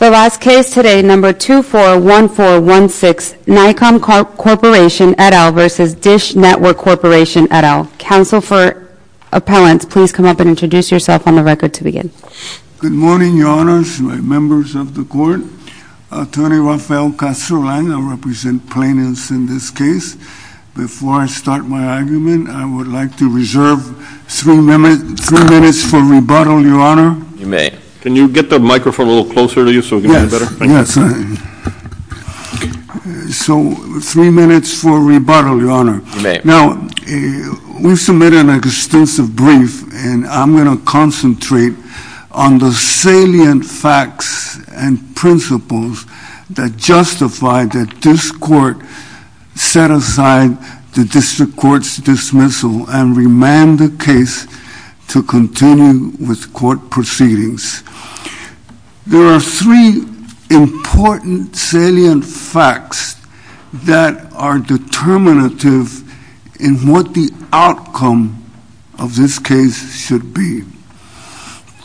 The last case today, No. 241416, Naicom Corporation, et al. v. Dish Network Corporation, et al. Counsel for Appellants, please come up and introduce yourself on the record to begin. Good morning, Your Honors, my members of the Court. Attorney Rafael Castrolan, I represent plaintiffs in this case. Before I start my argument, I would like to reserve three minutes for rebuttal, Your Honor. You may. Can you get the microphone a little closer to you so we can hear you better? Yes, yes. So, three minutes for rebuttal, Your Honor. You may. Now, we submitted an extensive brief, and I'm going to concentrate on the salient facts and principles that justify that this Court set aside the District Court's dismissal and remand the case to continue with court proceedings. There are three important salient facts that are determinative in what the outcome of this case should be.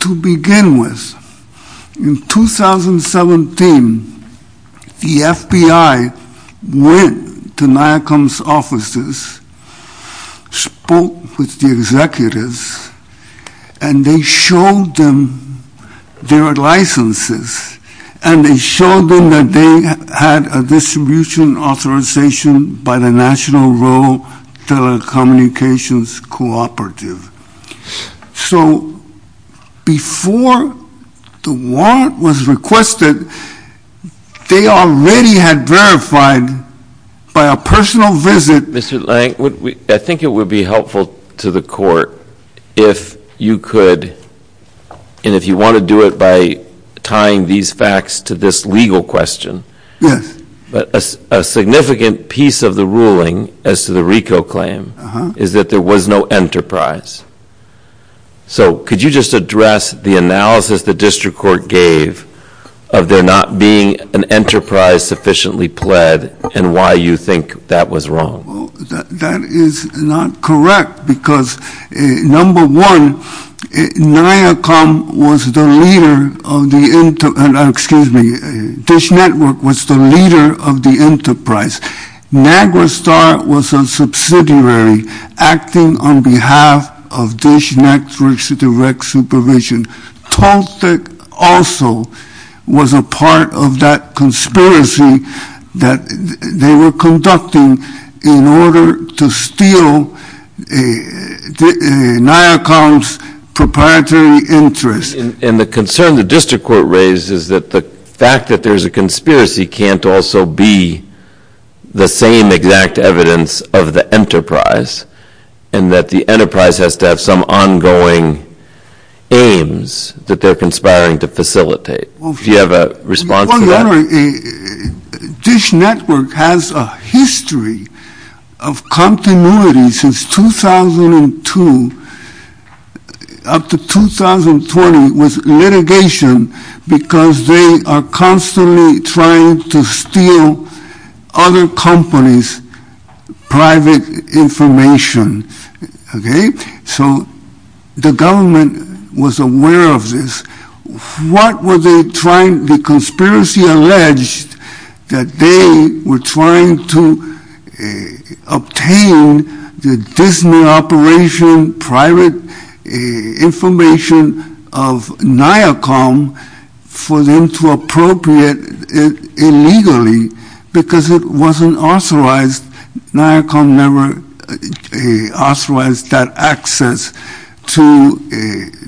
To begin with, in 2017, the FBI went to Naicom's offices, spoke with the executives, and they showed them their licenses, and they showed them that they had a distribution authorization by the National Road Telecommunications Cooperative. So, before the warrant was requested, they already had verified by a personal visit. Mr. Lank, I think it would be helpful to the Court if you could, and if you want to do it by tying these facts to this legal question. Yes. A significant piece of the ruling as to the RICO claim is that there was no enterprise. So, could you just address the analysis the District Court gave of there not being an enterprise sufficiently pled and why you think that was wrong? Well, that is not correct because, number one, Naicom was the leader of the enterprise. Niagara Star was a subsidiary acting on behalf of Dish Networks Direct Supervision. Toltec also was a part of that conspiracy that they were conducting in order to steal Naicom's proprietary interest. And the concern the District Court raised is that the fact that there is a conspiracy can't also be the same exact evidence of the enterprise, and that the enterprise has to have some ongoing aims that they are conspiring to facilitate. Do you have a response to that? Dish Network has a history of continuity since 2002 up to 2020 with litigation because they are constantly trying to steal other companies' private information. So, the government was aware of this. The conspiracy alleged that they were trying to obtain the Disney operation private information of Naicom for them to appropriate it illegally because it wasn't authorized. Naicom never authorized that access to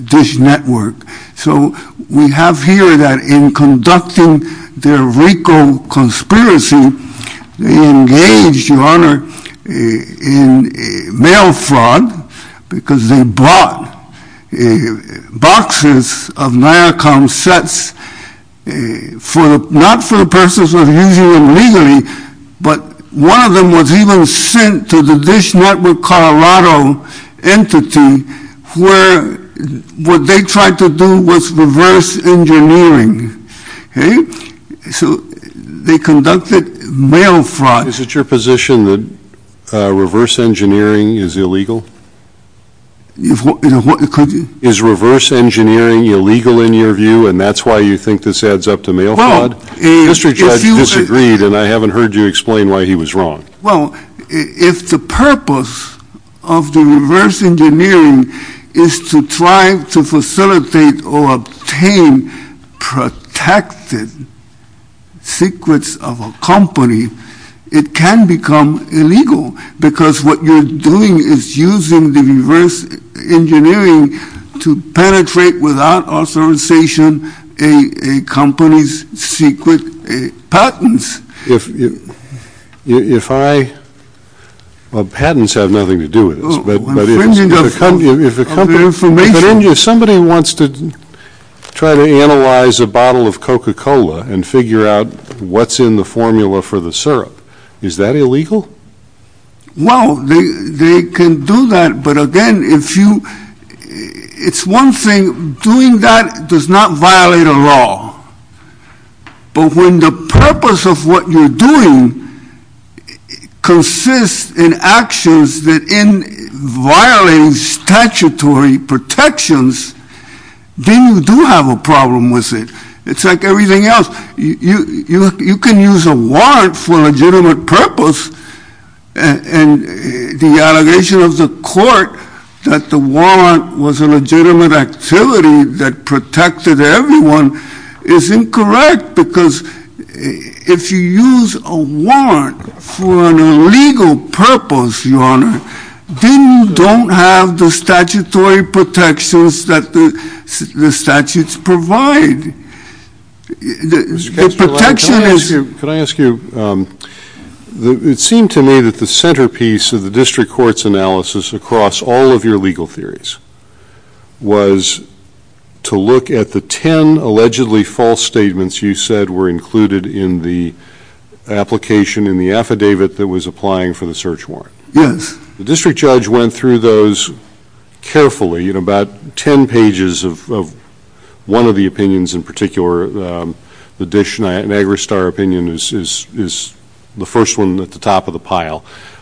Dish Network. So, we have here that in conducting their RICO conspiracy, they engaged, Your Honor, in mail fraud because they bought boxes of Naicom sets, not for the purposes of using them legally, but one of them was even sent to the Dish Network Colorado entity where what they tried to do was reverse engineering. So, they conducted mail fraud. Is it your position that reverse engineering is illegal? Is reverse engineering illegal in your view? And that's why you think this adds up to mail fraud? Mr. Judge disagreed, and I haven't heard you explain why he was wrong. Well, if the purpose of the reverse engineering is to try to facilitate or obtain protected secrets of a company, it can become illegal because what you're doing is using the reverse engineering to penetrate without authorization a company's secret patents. Well, patents have nothing to do with this, but if somebody wants to try to analyze a bottle of Coca-Cola and figure out what's in the formula for the syrup, is that illegal? Well, they can do that, but again, it's one thing. Doing that does not violate a law, but when the purpose of what you're doing consists in actions that violate statutory protections, then you do have a problem with it. It's like everything else. You can use a warrant for a legitimate purpose, and the allegation of the court that the warrant was a legitimate activity that protected everyone is incorrect, because if you use a warrant for an illegal purpose, Your Honor, then you don't have the statutory protections that the statutes provide. Mr. Kestrelak, could I ask you, it seemed to me that the centerpiece of the district court's analysis across all of your legal theories was to look at the 10 allegedly false statements you said were included in the application in the affidavit that was applying for the search warrant. Yes. The district judge went through those carefully, about 10 pages of one of the opinions in particular. The Dish Niagara Star opinion is the first one at the top of the pile.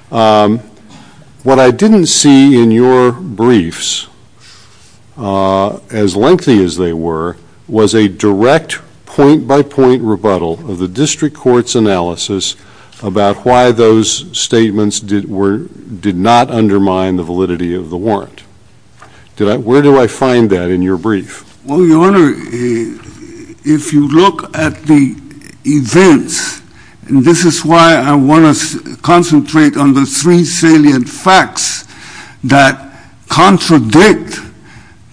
What I didn't see in your briefs, as lengthy as they were, was a direct point-by-point rebuttal of the district court's analysis about why those statements did not undermine the validity of the warrant. Where do I find that in your brief? Well, Your Honor, if you look at the events, and this is why I want to concentrate on the three salient facts that contradict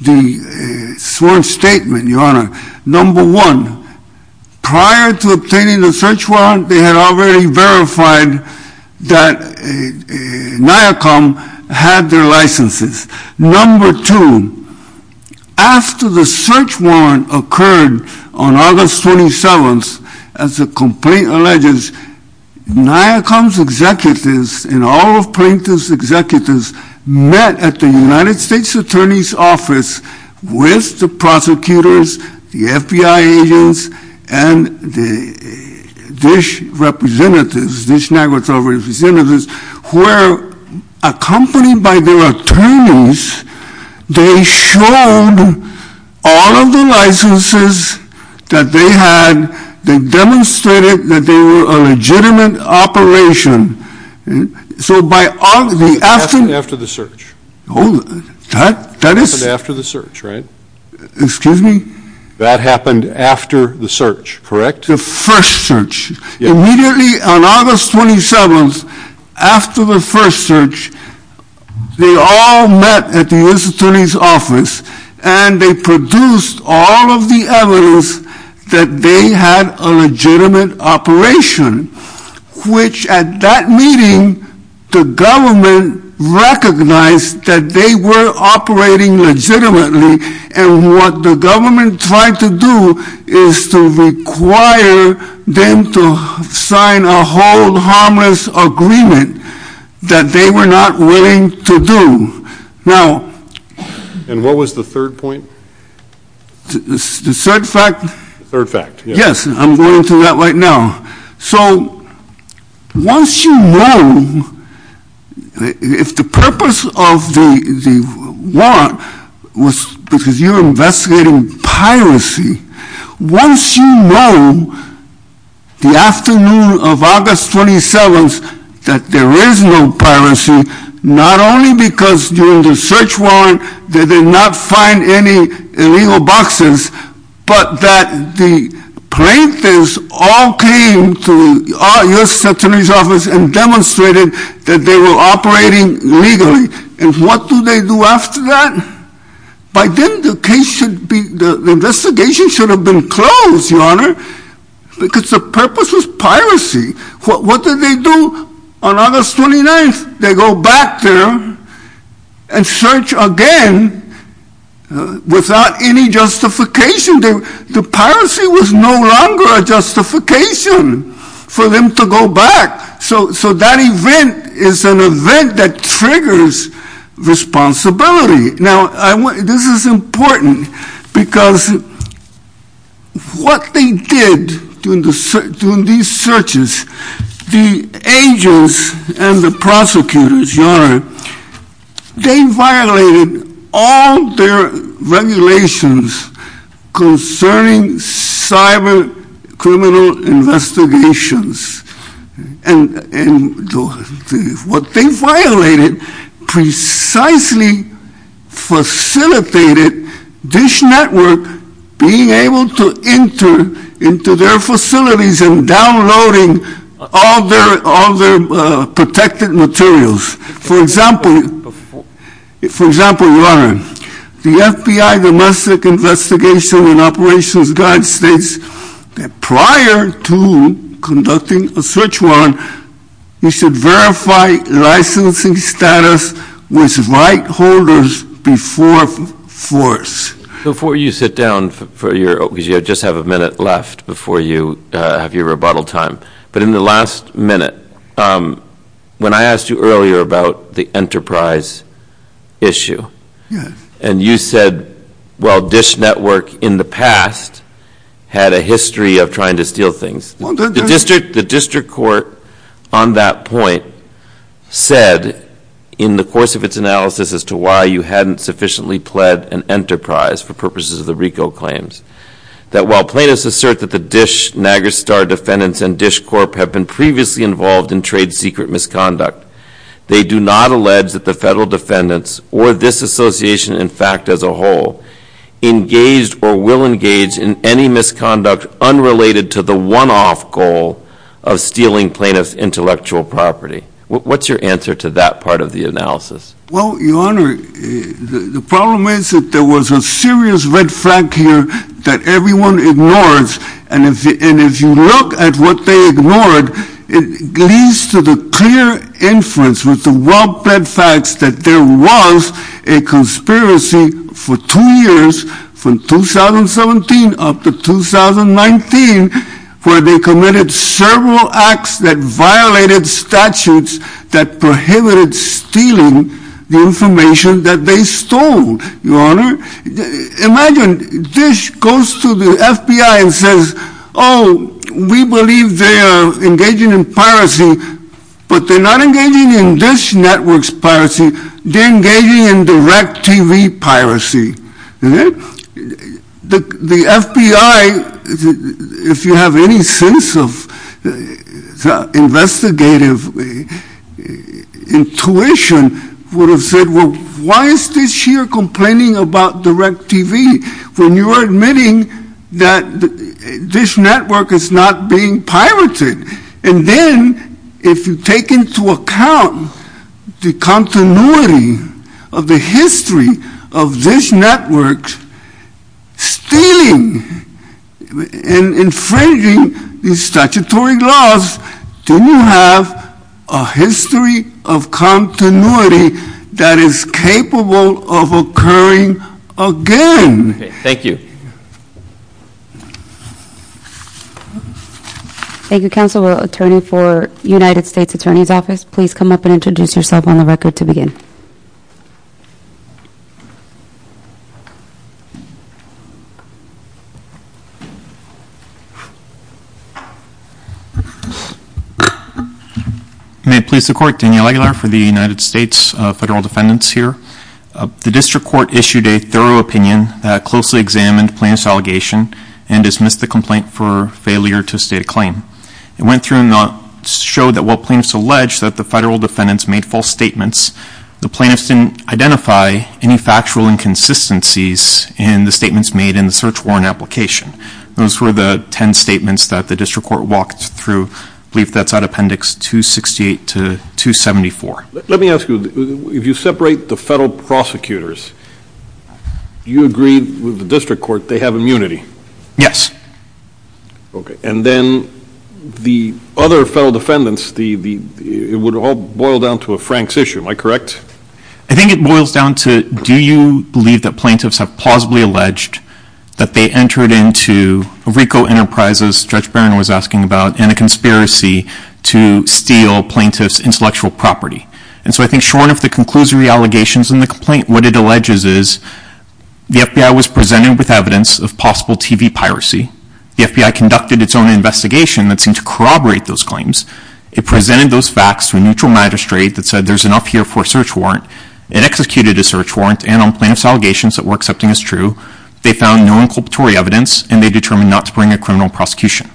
the sworn statement, Your Honor. Number one, prior to obtaining the search warrant, they had already verified that NIACOM had their licenses. Number two, after the search warrant occurred on August 27th, as the complaint alleges, NIACOM's executives and all of Plankton's executives met at the United States Attorney's Office with the prosecutors, the FBI agents, and the Dish representatives, Dish Niagara Star representatives, where, accompanied by their attorneys, they showed all of the licenses that they had. They demonstrated that they were a legitimate operation. That happened after the search, right? Excuse me? That happened after the search, correct? The first search. Immediately on August 27th, after the first search, they all met at the U.S. Attorney's Office, and they produced all of the evidence that they had a legitimate operation, which, at that meeting, the government recognized that they were operating legitimately, and what the government tried to do is to require them to sign a hold harmless agreement that they were not willing to do. And what was the third point? The third fact? The third fact, yes. Yes, I'm going through that right now. So, once you know, if the purpose of the warrant was because you're investigating piracy, once you know, the afternoon of August 27th, that there is no piracy, not only because during the search warrant they did not find any illegal boxes, but that the plaintiffs all came to the U.S. Attorney's Office and demonstrated that they were operating legally. And what do they do after that? By then, the investigation should have been closed, Your Honor, because the purpose was piracy. What did they do on August 29th? They go back there and search again without any justification. The piracy was no longer a justification for them to go back. So that event is an event that triggers responsibility. Now, this is important because what they did during these searches, the agents and the prosecutors, Your Honor, they violated all their regulations concerning cyber criminal investigations. And what they violated precisely facilitated DISH Network being able to enter into their facilities and downloading all their protected materials. For example, Your Honor, the FBI Domestic Investigation and Operations Guide states that prior to conducting a search warrant, you should verify licensing status with right holders before force. Before you sit down, because you just have a minute left before you have your rebuttal time, but in the last minute, when I asked you earlier about the enterprise issue, and you said, well, DISH Network in the past had a history of trying to steal things. The district court on that point said, in the course of its analysis as to why you hadn't sufficiently pled an enterprise for purposes of the RICO claims, that while plaintiffs assert that the DISH, NAGSTAR defendants, and DISH Corp. have been previously involved in trade secret misconduct, they do not allege that the federal defendants, or this association in fact as a whole, engaged or will engage in any misconduct unrelated to the one-off goal of stealing plaintiff's intellectual property. What's your answer to that part of the analysis? Well, Your Honor, the problem is that there was a serious red flag here that everyone ignores. And if you look at what they ignored, it leads to the clear inference with the well-plaid facts that there was a conspiracy for two years, from 2017 up to 2019, where they committed several acts that violated statutes that prohibited stealing the information that they stole. Your Honor, imagine DISH goes to the FBI and says, oh, we believe they are engaging in piracy, but they're not engaging in DISH Network's piracy, they're engaging in direct TV piracy. The FBI, if you have any sense of investigative intuition, would have said, well, why is DISH here complaining about direct TV when you're admitting that DISH Network is not being pirated? And then, if you take into account the continuity of the history of DISH Network stealing and infringing the statutory laws, then you have a history of continuity that is capable of occurring again. Thank you. Thank you. Thank you, Counsel. Attorney for United States Attorney's Office, please come up and introduce yourself on the record to begin. May it please the Court, Daniel Aguilar for the United States Federal Defendants here. The District Court issued a thorough opinion that closely examined plaintiff's allegation and dismissed the complaint for failure to state a claim. It went through and showed that while plaintiffs alleged that the Federal Defendants made false statements, the plaintiffs didn't identify any factual inconsistencies in the statements made in the search warrant application. Those were the 10 statements that the District Court walked through, I believe that's out of Appendix 268 to 274. Let me ask you, if you separate the Federal Prosecutors, you agree with the District Court they have immunity? Yes. Okay. And then, the other Federal Defendants, it would all boil down to a Frank's issue, am I correct? I think it boils down to, do you believe that plaintiffs have plausibly alleged that they entered into Rico Enterprises, Judge Barron was asking about, in a conspiracy to steal plaintiff's intellectual property? And so I think short of the conclusory allegations in the complaint, what it alleges is the FBI was presented with evidence of possible TV piracy. The FBI conducted its own investigation that seemed to corroborate those claims. It presented those facts to a neutral magistrate that said there's enough here for a search warrant. It executed a search warrant and on plaintiff's allegations that were accepting as true, they found no inculpatory evidence and they determined not to bring a criminal prosecution.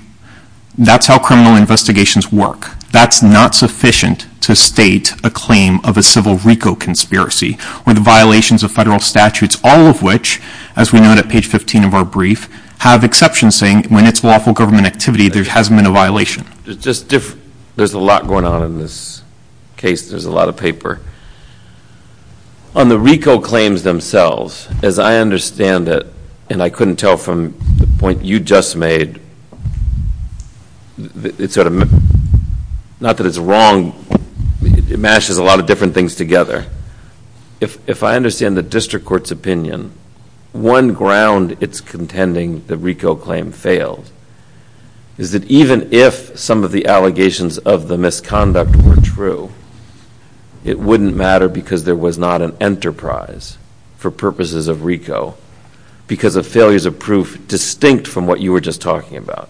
That's how criminal investigations work. That's not sufficient to state a claim of a civil Rico conspiracy with violations of federal statutes, all of which, as we note at page 15 of our brief, have exceptions saying when it's lawful government activity there hasn't been a violation. There's a lot going on in this case. There's a lot of paper. On the Rico claims themselves, as I understand it, and I couldn't tell from the point you just made, not that it's wrong, it mashes a lot of different things together. If I understand the district court's opinion, one ground it's contending the Rico claim failed is that even if some of the allegations of the misconduct were true, it wouldn't matter because there was not an enterprise for purposes of Rico because of failures of proof distinct from what you were just talking about.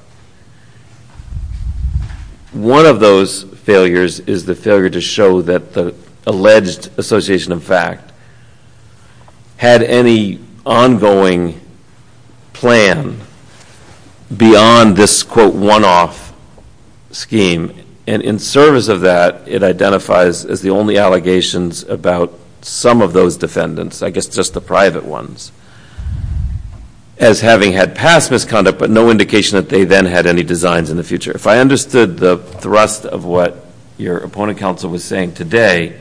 One of those failures is the failure to show that the alleged association of fact had any ongoing plan beyond this, quote, one-off scheme. And in service of that, it identifies as the only allegations about some of those defendants, I guess just the private ones, as having had past misconduct but no indication that they then had any designs in the future. If I understood the thrust of what your opponent counsel was saying today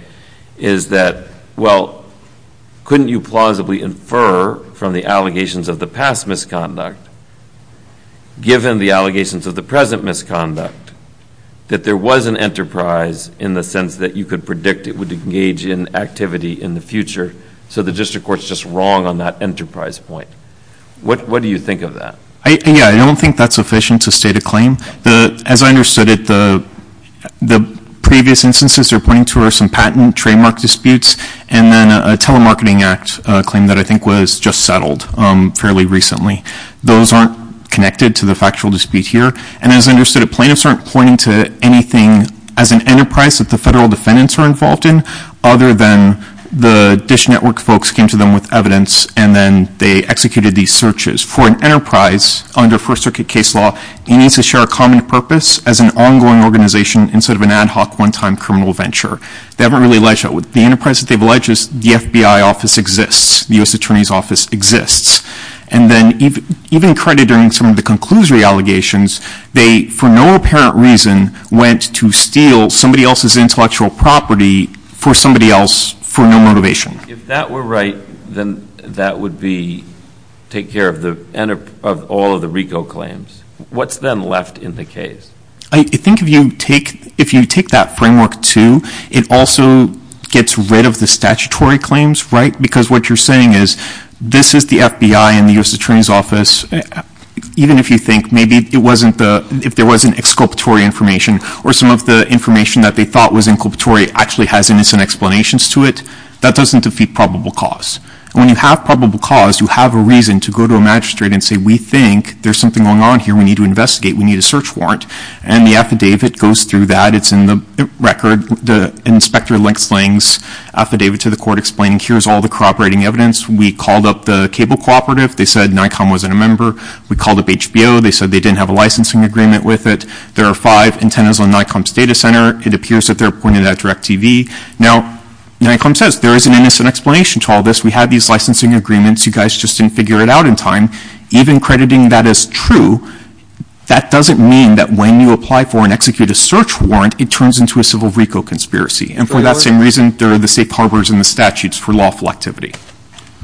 is that, well, couldn't you plausibly infer from the allegations of the past misconduct, given the allegations of the present misconduct, that there was an enterprise in the sense that you could predict it would engage in activity in the future, so the district court's just wrong on that enterprise point. What do you think of that? Yeah, I don't think that's sufficient to state a claim. As I understood it, the previous instances they're pointing to are some patent trademark disputes and then a telemarketing act claim that I think was just settled fairly recently. Those aren't connected to the factual dispute here. And as I understood it, plaintiffs aren't pointing to anything as an enterprise that the federal defendants are involved in other than the DISH Network folks came to them with evidence and then they executed these searches. For an enterprise under First Circuit case law, it needs to share a common purpose as an ongoing organization instead of an ad hoc one-time criminal venture. They haven't really ledged that. With the enterprise that they've ledged, the FBI office exists. The U.S. Attorney's Office exists. And then even crediting some of the conclusory allegations, they for no apparent reason went to steal somebody else's intellectual property for somebody else for no motivation. If that were right, then that would be take care of all of the RICO claims. What's then left in the case? I think if you take that framework too, it also gets rid of the statutory claims, right? Because what you're saying is this is the FBI and the U.S. Attorney's Office. Even if you think maybe it wasn't the – if there wasn't exculpatory information or some of the information that they thought was inculpatory actually has innocent explanations to it, that doesn't defeat probable cause. And when you have probable cause, you have a reason to go to a magistrate and say, we think there's something going on here. We need to investigate. We need a search warrant. And the affidavit goes through that. It's in the record. The inspector explains affidavit to the court explaining here's all the cooperating evidence. We called up the cable cooperative. They said Nikon wasn't a member. We called up HBO. They said they didn't have a licensing agreement with it. There are five antennas on Nikon's data center. It appears that they're pointed at DirecTV. Now, Nikon says there is an innocent explanation to all this. We have these licensing agreements. You guys just didn't figure it out in time. Even crediting that as true, that doesn't mean that when you apply for and execute a search warrant, it turns into a civil reco conspiracy. And for that same reason, there are the safe harbors and the statutes for lawful activity.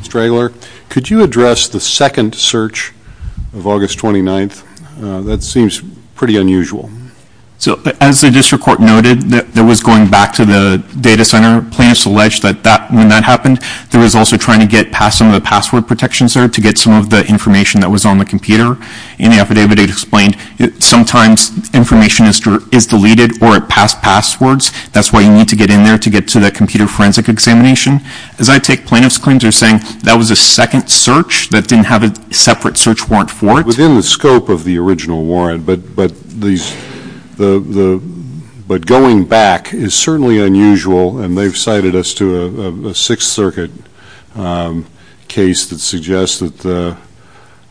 Mr. Dragler, could you address the second search of August 29th? That seems pretty unusual. As the district court noted, there was going back to the data center. Plaintiffs alleged that when that happened, there was also trying to get past some of the password protections there to get some of the information that was on the computer. In the affidavit, it explained sometimes information is deleted or it passed passwords. That's why you need to get in there to get to the computer forensic examination. As I take plaintiffs' claims, they're saying that was a second search that didn't have a separate search warrant for it. Within the scope of the original warrant, but going back is certainly unusual, and they've cited us to a Sixth Circuit case that suggests that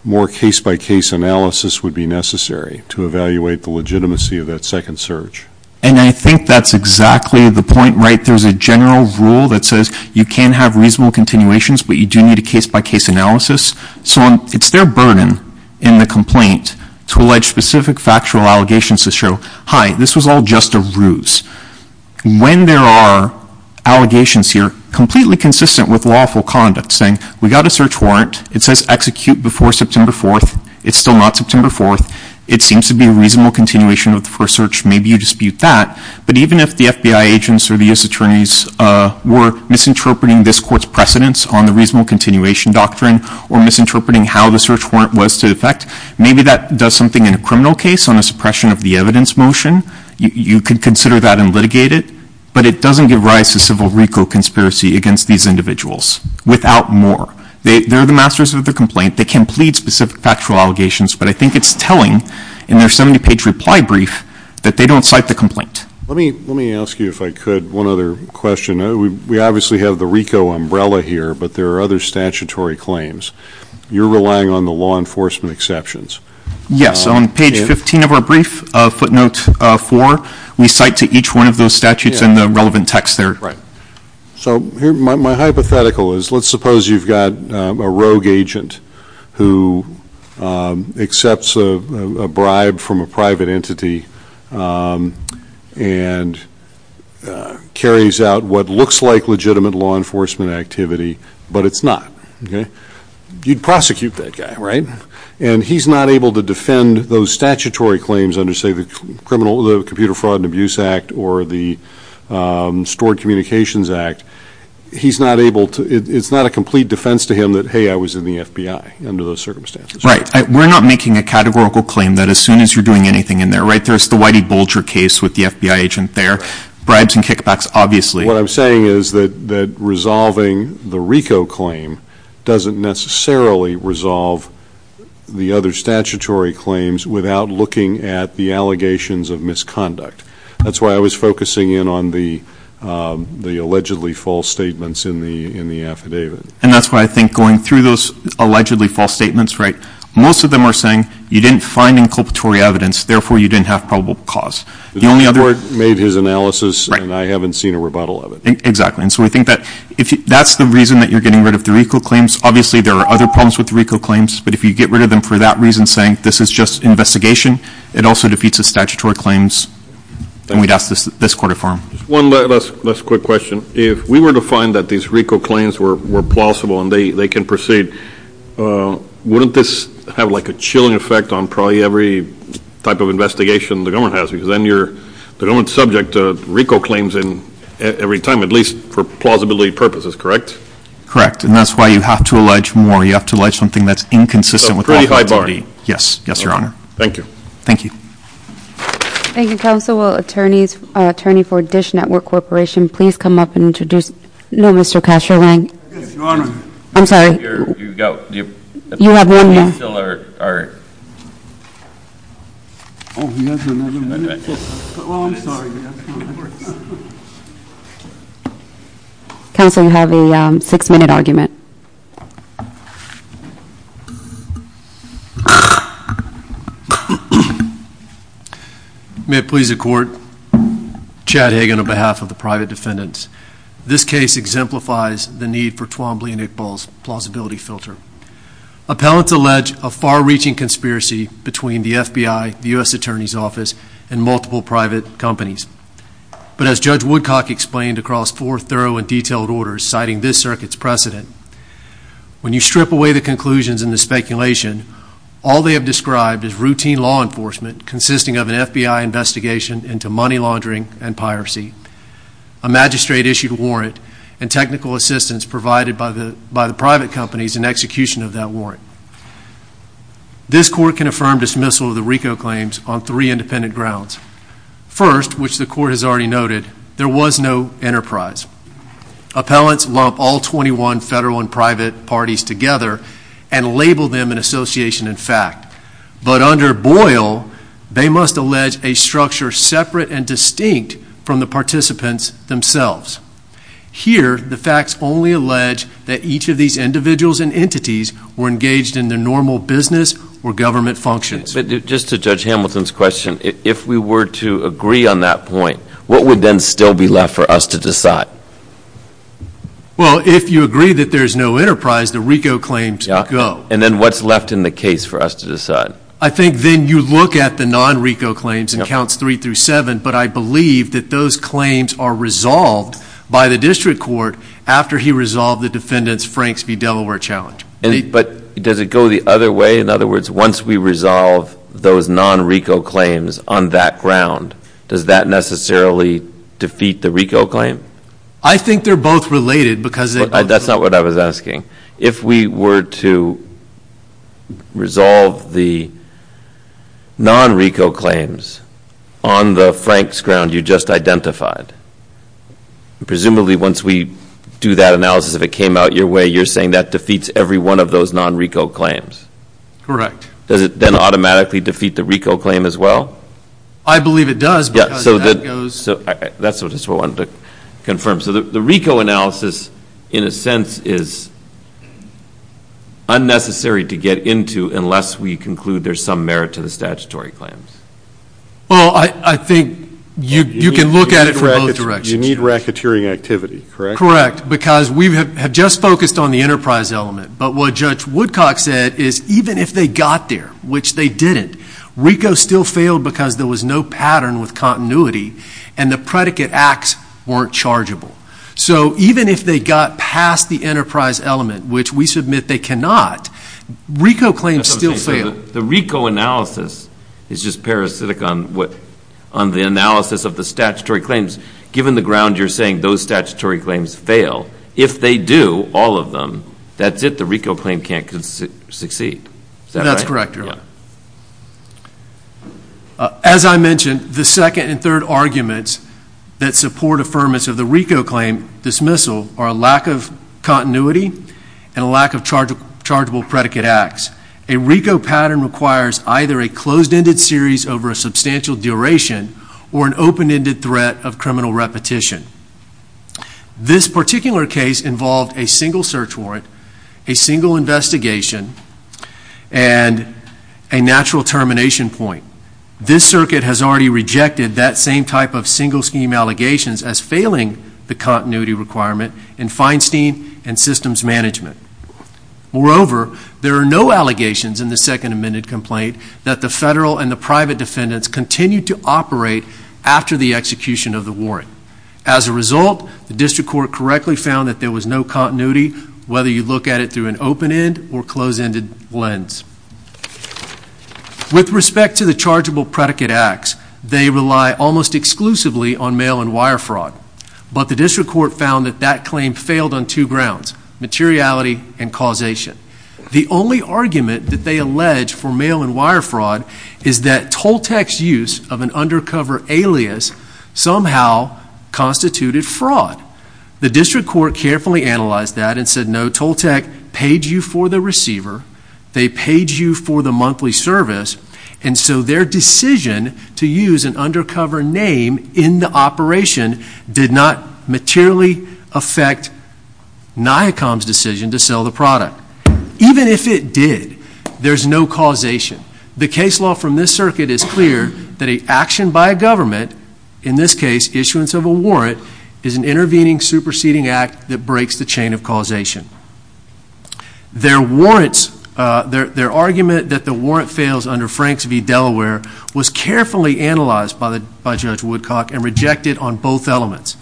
more case-by-case analysis would be necessary to evaluate the legitimacy of that second search. And I think that's exactly the point. There's a general rule that says you can have reasonable continuations, but you do need a case-by-case analysis. So it's their burden in the complaint to allege specific factual allegations to show, hi, this was all just a ruse. When there are allegations here, completely consistent with lawful conduct, saying we got a search warrant. It says execute before September 4th. It's still not September 4th. It seems to be a reasonable continuation of the first search. Maybe you dispute that. But even if the FBI agents or the U.S. Attorneys were misinterpreting this court's precedence on the reasonable continuation doctrine or misinterpreting how the search warrant was to effect, maybe that does something in a criminal case on a suppression of the evidence motion. You could consider that and litigate it. But it doesn't give rise to civil recall conspiracy against these individuals, without more. They're the masters of the complaint. They can plead specific factual allegations. But I think it's telling in their 70-page reply brief that they don't cite the complaint. Let me ask you, if I could, one other question. We obviously have the RICO umbrella here, but there are other statutory claims. You're relying on the law enforcement exceptions. Yes. On page 15 of our brief, footnote 4, we cite to each one of those statutes in the relevant text there. So my hypothetical is, let's suppose you've got a rogue agent who accepts a bribe from a private entity and carries out what looks like legitimate law enforcement activity, but it's not. You'd prosecute that guy, right? And he's not able to defend those statutory claims under, say, the Computer Fraud and Abuse Act or the Stored Communications Act. It's not a complete defense to him that, hey, I was in the FBI under those circumstances. Right. We're not making a categorical claim that as soon as you're doing anything in there, right? There's the Whitey Bolger case with the FBI agent there. Bribes and kickbacks, obviously. What I'm saying is that resolving the RICO claim doesn't necessarily resolve the other statutory claims without looking at the allegations of misconduct. That's why I was focusing in on the allegedly false statements in the affidavit. And that's why I think going through those allegedly false statements, right, most of them are saying you didn't find inculpatory evidence, therefore you didn't have probable cause. The court made his analysis and I haven't seen a rebuttal of it. Exactly. And so we think that's the reason that you're getting rid of the RICO claims. Obviously, there are other problems with the RICO claims, but if you get rid of them for that reason, saying this is just investigation, it also defeats the statutory claims. And we'd ask this court to firm. One last quick question. If we were to find that these RICO claims were plausible and they can proceed, wouldn't this have like a chilling effect on probably every type of investigation the government has? Because then you're the government's subject to RICO claims every time, at least for plausibility purposes, correct? Correct. And that's why you have to allege more. You have to allege something that's inconsistent. So pretty high bar. Yes. Yes, Your Honor. Thank you. Thank you. Thank you, counsel. Will attorney for Dish Network Corporation please come up and introduce? No, Mr. Castro-Lang. Yes, Your Honor. I'm sorry. You go. You have one minute. Counsel, you have a six-minute argument. May it please the court. Chad Hagan on behalf of the private defendants. This case exemplifies the need for Twombly and Iqbal's plausibility filter. Appellants allege a far-reaching conspiracy between the FBI, the U.S. Attorney's Office, and multiple private companies. But as Judge Woodcock explained across four thorough and detailed orders citing this circuit's precedent, when you strip away the conclusions and the speculation, all they have described is routine law enforcement consisting of an FBI investigation into money laundering and piracy, a magistrate-issued warrant, and technical assistance provided by the private companies in execution of that warrant. This court can affirm dismissal of the RICO claims on three independent grounds. First, which the court has already noted, there was no enterprise. Appellants lump all 21 federal and private parties together and label them in association and fact. But under Boyle, they must allege a structure separate and distinct from the participants themselves. Here, the facts only allege that each of these individuals and entities were engaged in their normal business or government functions. Just to Judge Hamilton's question, if we were to agree on that point, what would then still be left for us to decide? Well, if you agree that there's no enterprise, the RICO claims go. And then what's left in the case for us to decide? I think then you look at the non-RICO claims in counts three through seven, but I believe that those claims are resolved by the district court after he resolved the defendant's Franks v. Delaware challenge. But does it go the other way? In other words, once we resolve those non-RICO claims on that ground, does that necessarily defeat the RICO claim? I think they're both related because they both – That's not what I was asking. If we were to resolve the non-RICO claims on the Franks ground you just identified, presumably once we do that analysis, if it came out your way, you're saying that defeats every one of those non-RICO claims. Correct. Does it then automatically defeat the RICO claim as well? I believe it does because that goes – That's just what I wanted to confirm. So the RICO analysis, in a sense, is unnecessary to get into unless we conclude there's some merit to the statutory claims. Well, I think you can look at it from both directions. You need racketeering activity, correct? Correct, because we have just focused on the enterprise element. But what Judge Woodcock said is even if they got there, which they didn't, RICO still failed because there was no pattern with continuity, and the predicate acts weren't chargeable. So even if they got past the enterprise element, which we submit they cannot, RICO claims still fail. The RICO analysis is just parasitic on the analysis of the statutory claims, given the ground you're saying those statutory claims fail. If they do, all of them, that's it. The RICO claim can't succeed. Is that correct? That's correct, Your Honor. As I mentioned, the second and third arguments that support affirmance of the RICO claim dismissal are a lack of continuity and a lack of chargeable predicate acts. A RICO pattern requires either a closed-ended series over a substantial duration or an open-ended threat of criminal repetition. This particular case involved a single search warrant, a single investigation, and a natural termination point. This circuit has already rejected that same type of single-scheme allegations as failing the continuity requirement in Feinstein and systems management. Moreover, there are no allegations in the second amended complaint that the federal and the private defendants continued to operate after the execution of the warrant. As a result, the district court correctly found that there was no continuity, whether you look at it through an open-end or closed-ended lens. With respect to the chargeable predicate acts, they rely almost exclusively on mail and wire fraud, but the district court found that that claim failed on two grounds, materiality and causation. The only argument that they allege for mail and wire fraud is that Toltec's use of an undercover alias somehow constituted fraud. The district court carefully analyzed that and said, no, Toltec paid you for the receiver, they paid you for the monthly service, and so their decision to use an undercover name in the operation did not materially affect NIACOM's decision to sell the product. Even if it did, there's no causation. The case law from this circuit is clear that an action by a government, in this case issuance of a warrant, is an intervening superseding act that breaks the chain of causation. Their argument that the warrant fails under Franks v. Delaware was carefully analyzed by Judge Woodcock and rejected on both elements.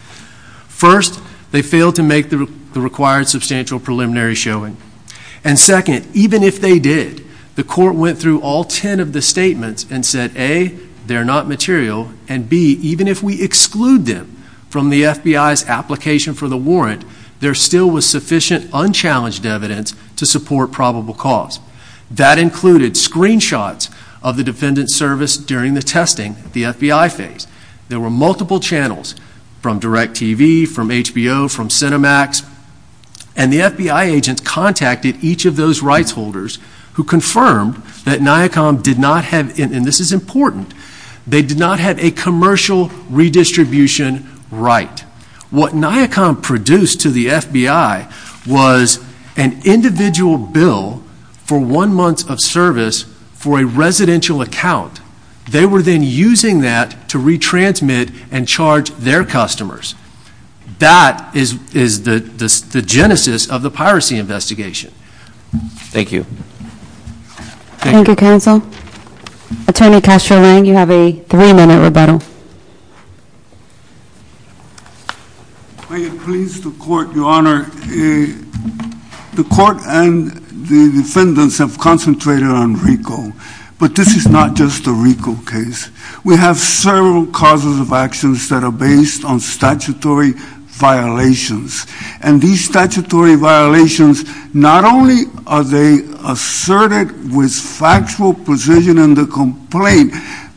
First, they failed to make the required substantial preliminary showing. And second, even if they did, the court went through all ten of the statements and said, A, they're not material, and B, even if we exclude them from the FBI's application for the warrant, there still was sufficient unchallenged evidence to support probable cause. That included screenshots of the defendant's service during the testing, the FBI phase. There were multiple channels, from DirecTV, from HBO, from Cinemax, and the FBI agents contacted each of those rights holders who confirmed that NIACOM did not have, and this is important, they did not have a commercial redistribution right. What NIACOM produced to the FBI was an individual bill for one month of service for a residential account. They were then using that to retransmit and charge their customers. That is the genesis of the piracy investigation. Thank you. Thank you, counsel. Attorney Castro-Lang, you have a three-minute rebuttal. May it please the Court, Your Honor, the Court and the defendants have concentrated on RICO, but this is not just a RICO case. We have several causes of actions that are based on statutory violations, and these statutory violations, not only are they asserted with factual precision in the complaint,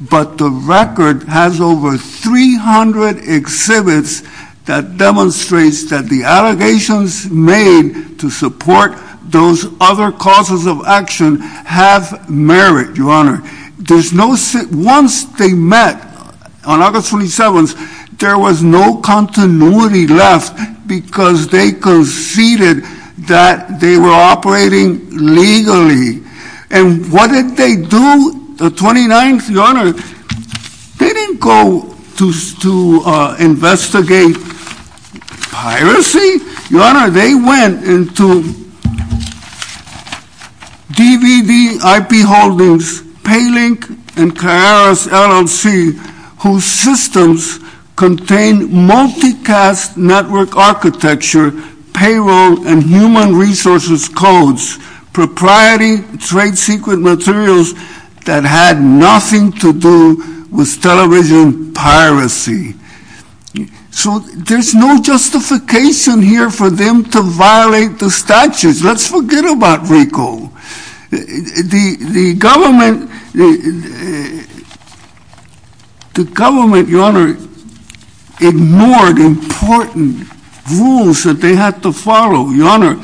but the record has over 300 exhibits that demonstrates that the allegations made to support those other causes of action have merit, Your Honor. Once they met on August 27th, there was no continuity left because they conceded that they were operating legally. And what did they do the 29th, Your Honor? They didn't go to investigate piracy, Your Honor. They went into DVD IP holdings, PayLink and Kairos LLC, whose systems contain multicast network architecture, payroll and human resources codes, propriety, trade secret materials that had nothing to do with television piracy. So there's no justification here for them to violate the statutes. Let's forget about RICO. The government, Your Honor, ignored important rules that they had to follow, Your Honor.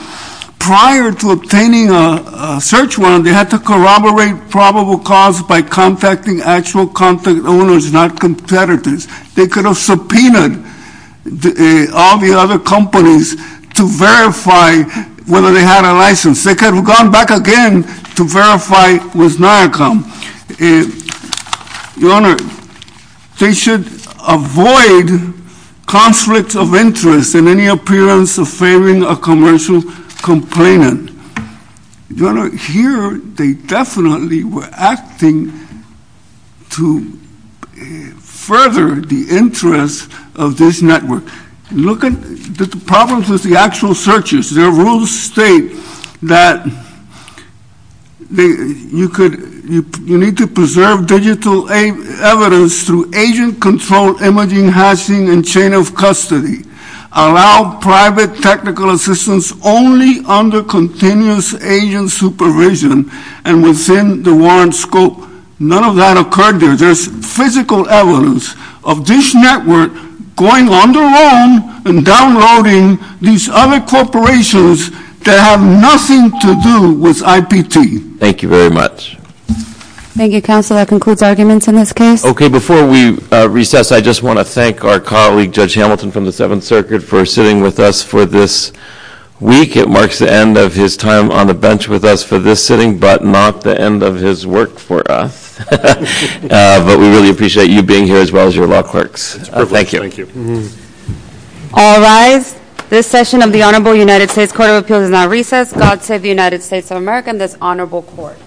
Prior to obtaining a search warrant, they had to corroborate probable cause by contacting actual contact owners, not competitors. They could have subpoenaed all the other companies to verify whether they had a license. They could have gone back again to verify with NIACOM. Your Honor, they should avoid conflicts of interest in any appearance of failing a commercial complainant. Your Honor, here they definitely were acting to further the interests of this network. Look at the problems with the actual searches. Their rules state that you need to preserve digital evidence through agent-controlled imaging, hashing and chain of custody. Allow private technical assistance only under continuous agent supervision and within the warrant scope. None of that occurred there. There's physical evidence of this network going on their own and downloading these other corporations that have nothing to do with IPT. Thank you very much. Thank you, Counselor. That concludes arguments in this case. Okay, before we recess, I just want to thank our colleague, Judge Hamilton from the Seventh Circuit, for sitting with us for this week. It marks the end of his time on the bench with us for this sitting, but not the end of his work for us. But we really appreciate you being here as well as your law clerks. Thank you. Thank you. All rise. This session of the Honorable United States Court of Appeals has now recessed. God save the United States of America and this honorable court.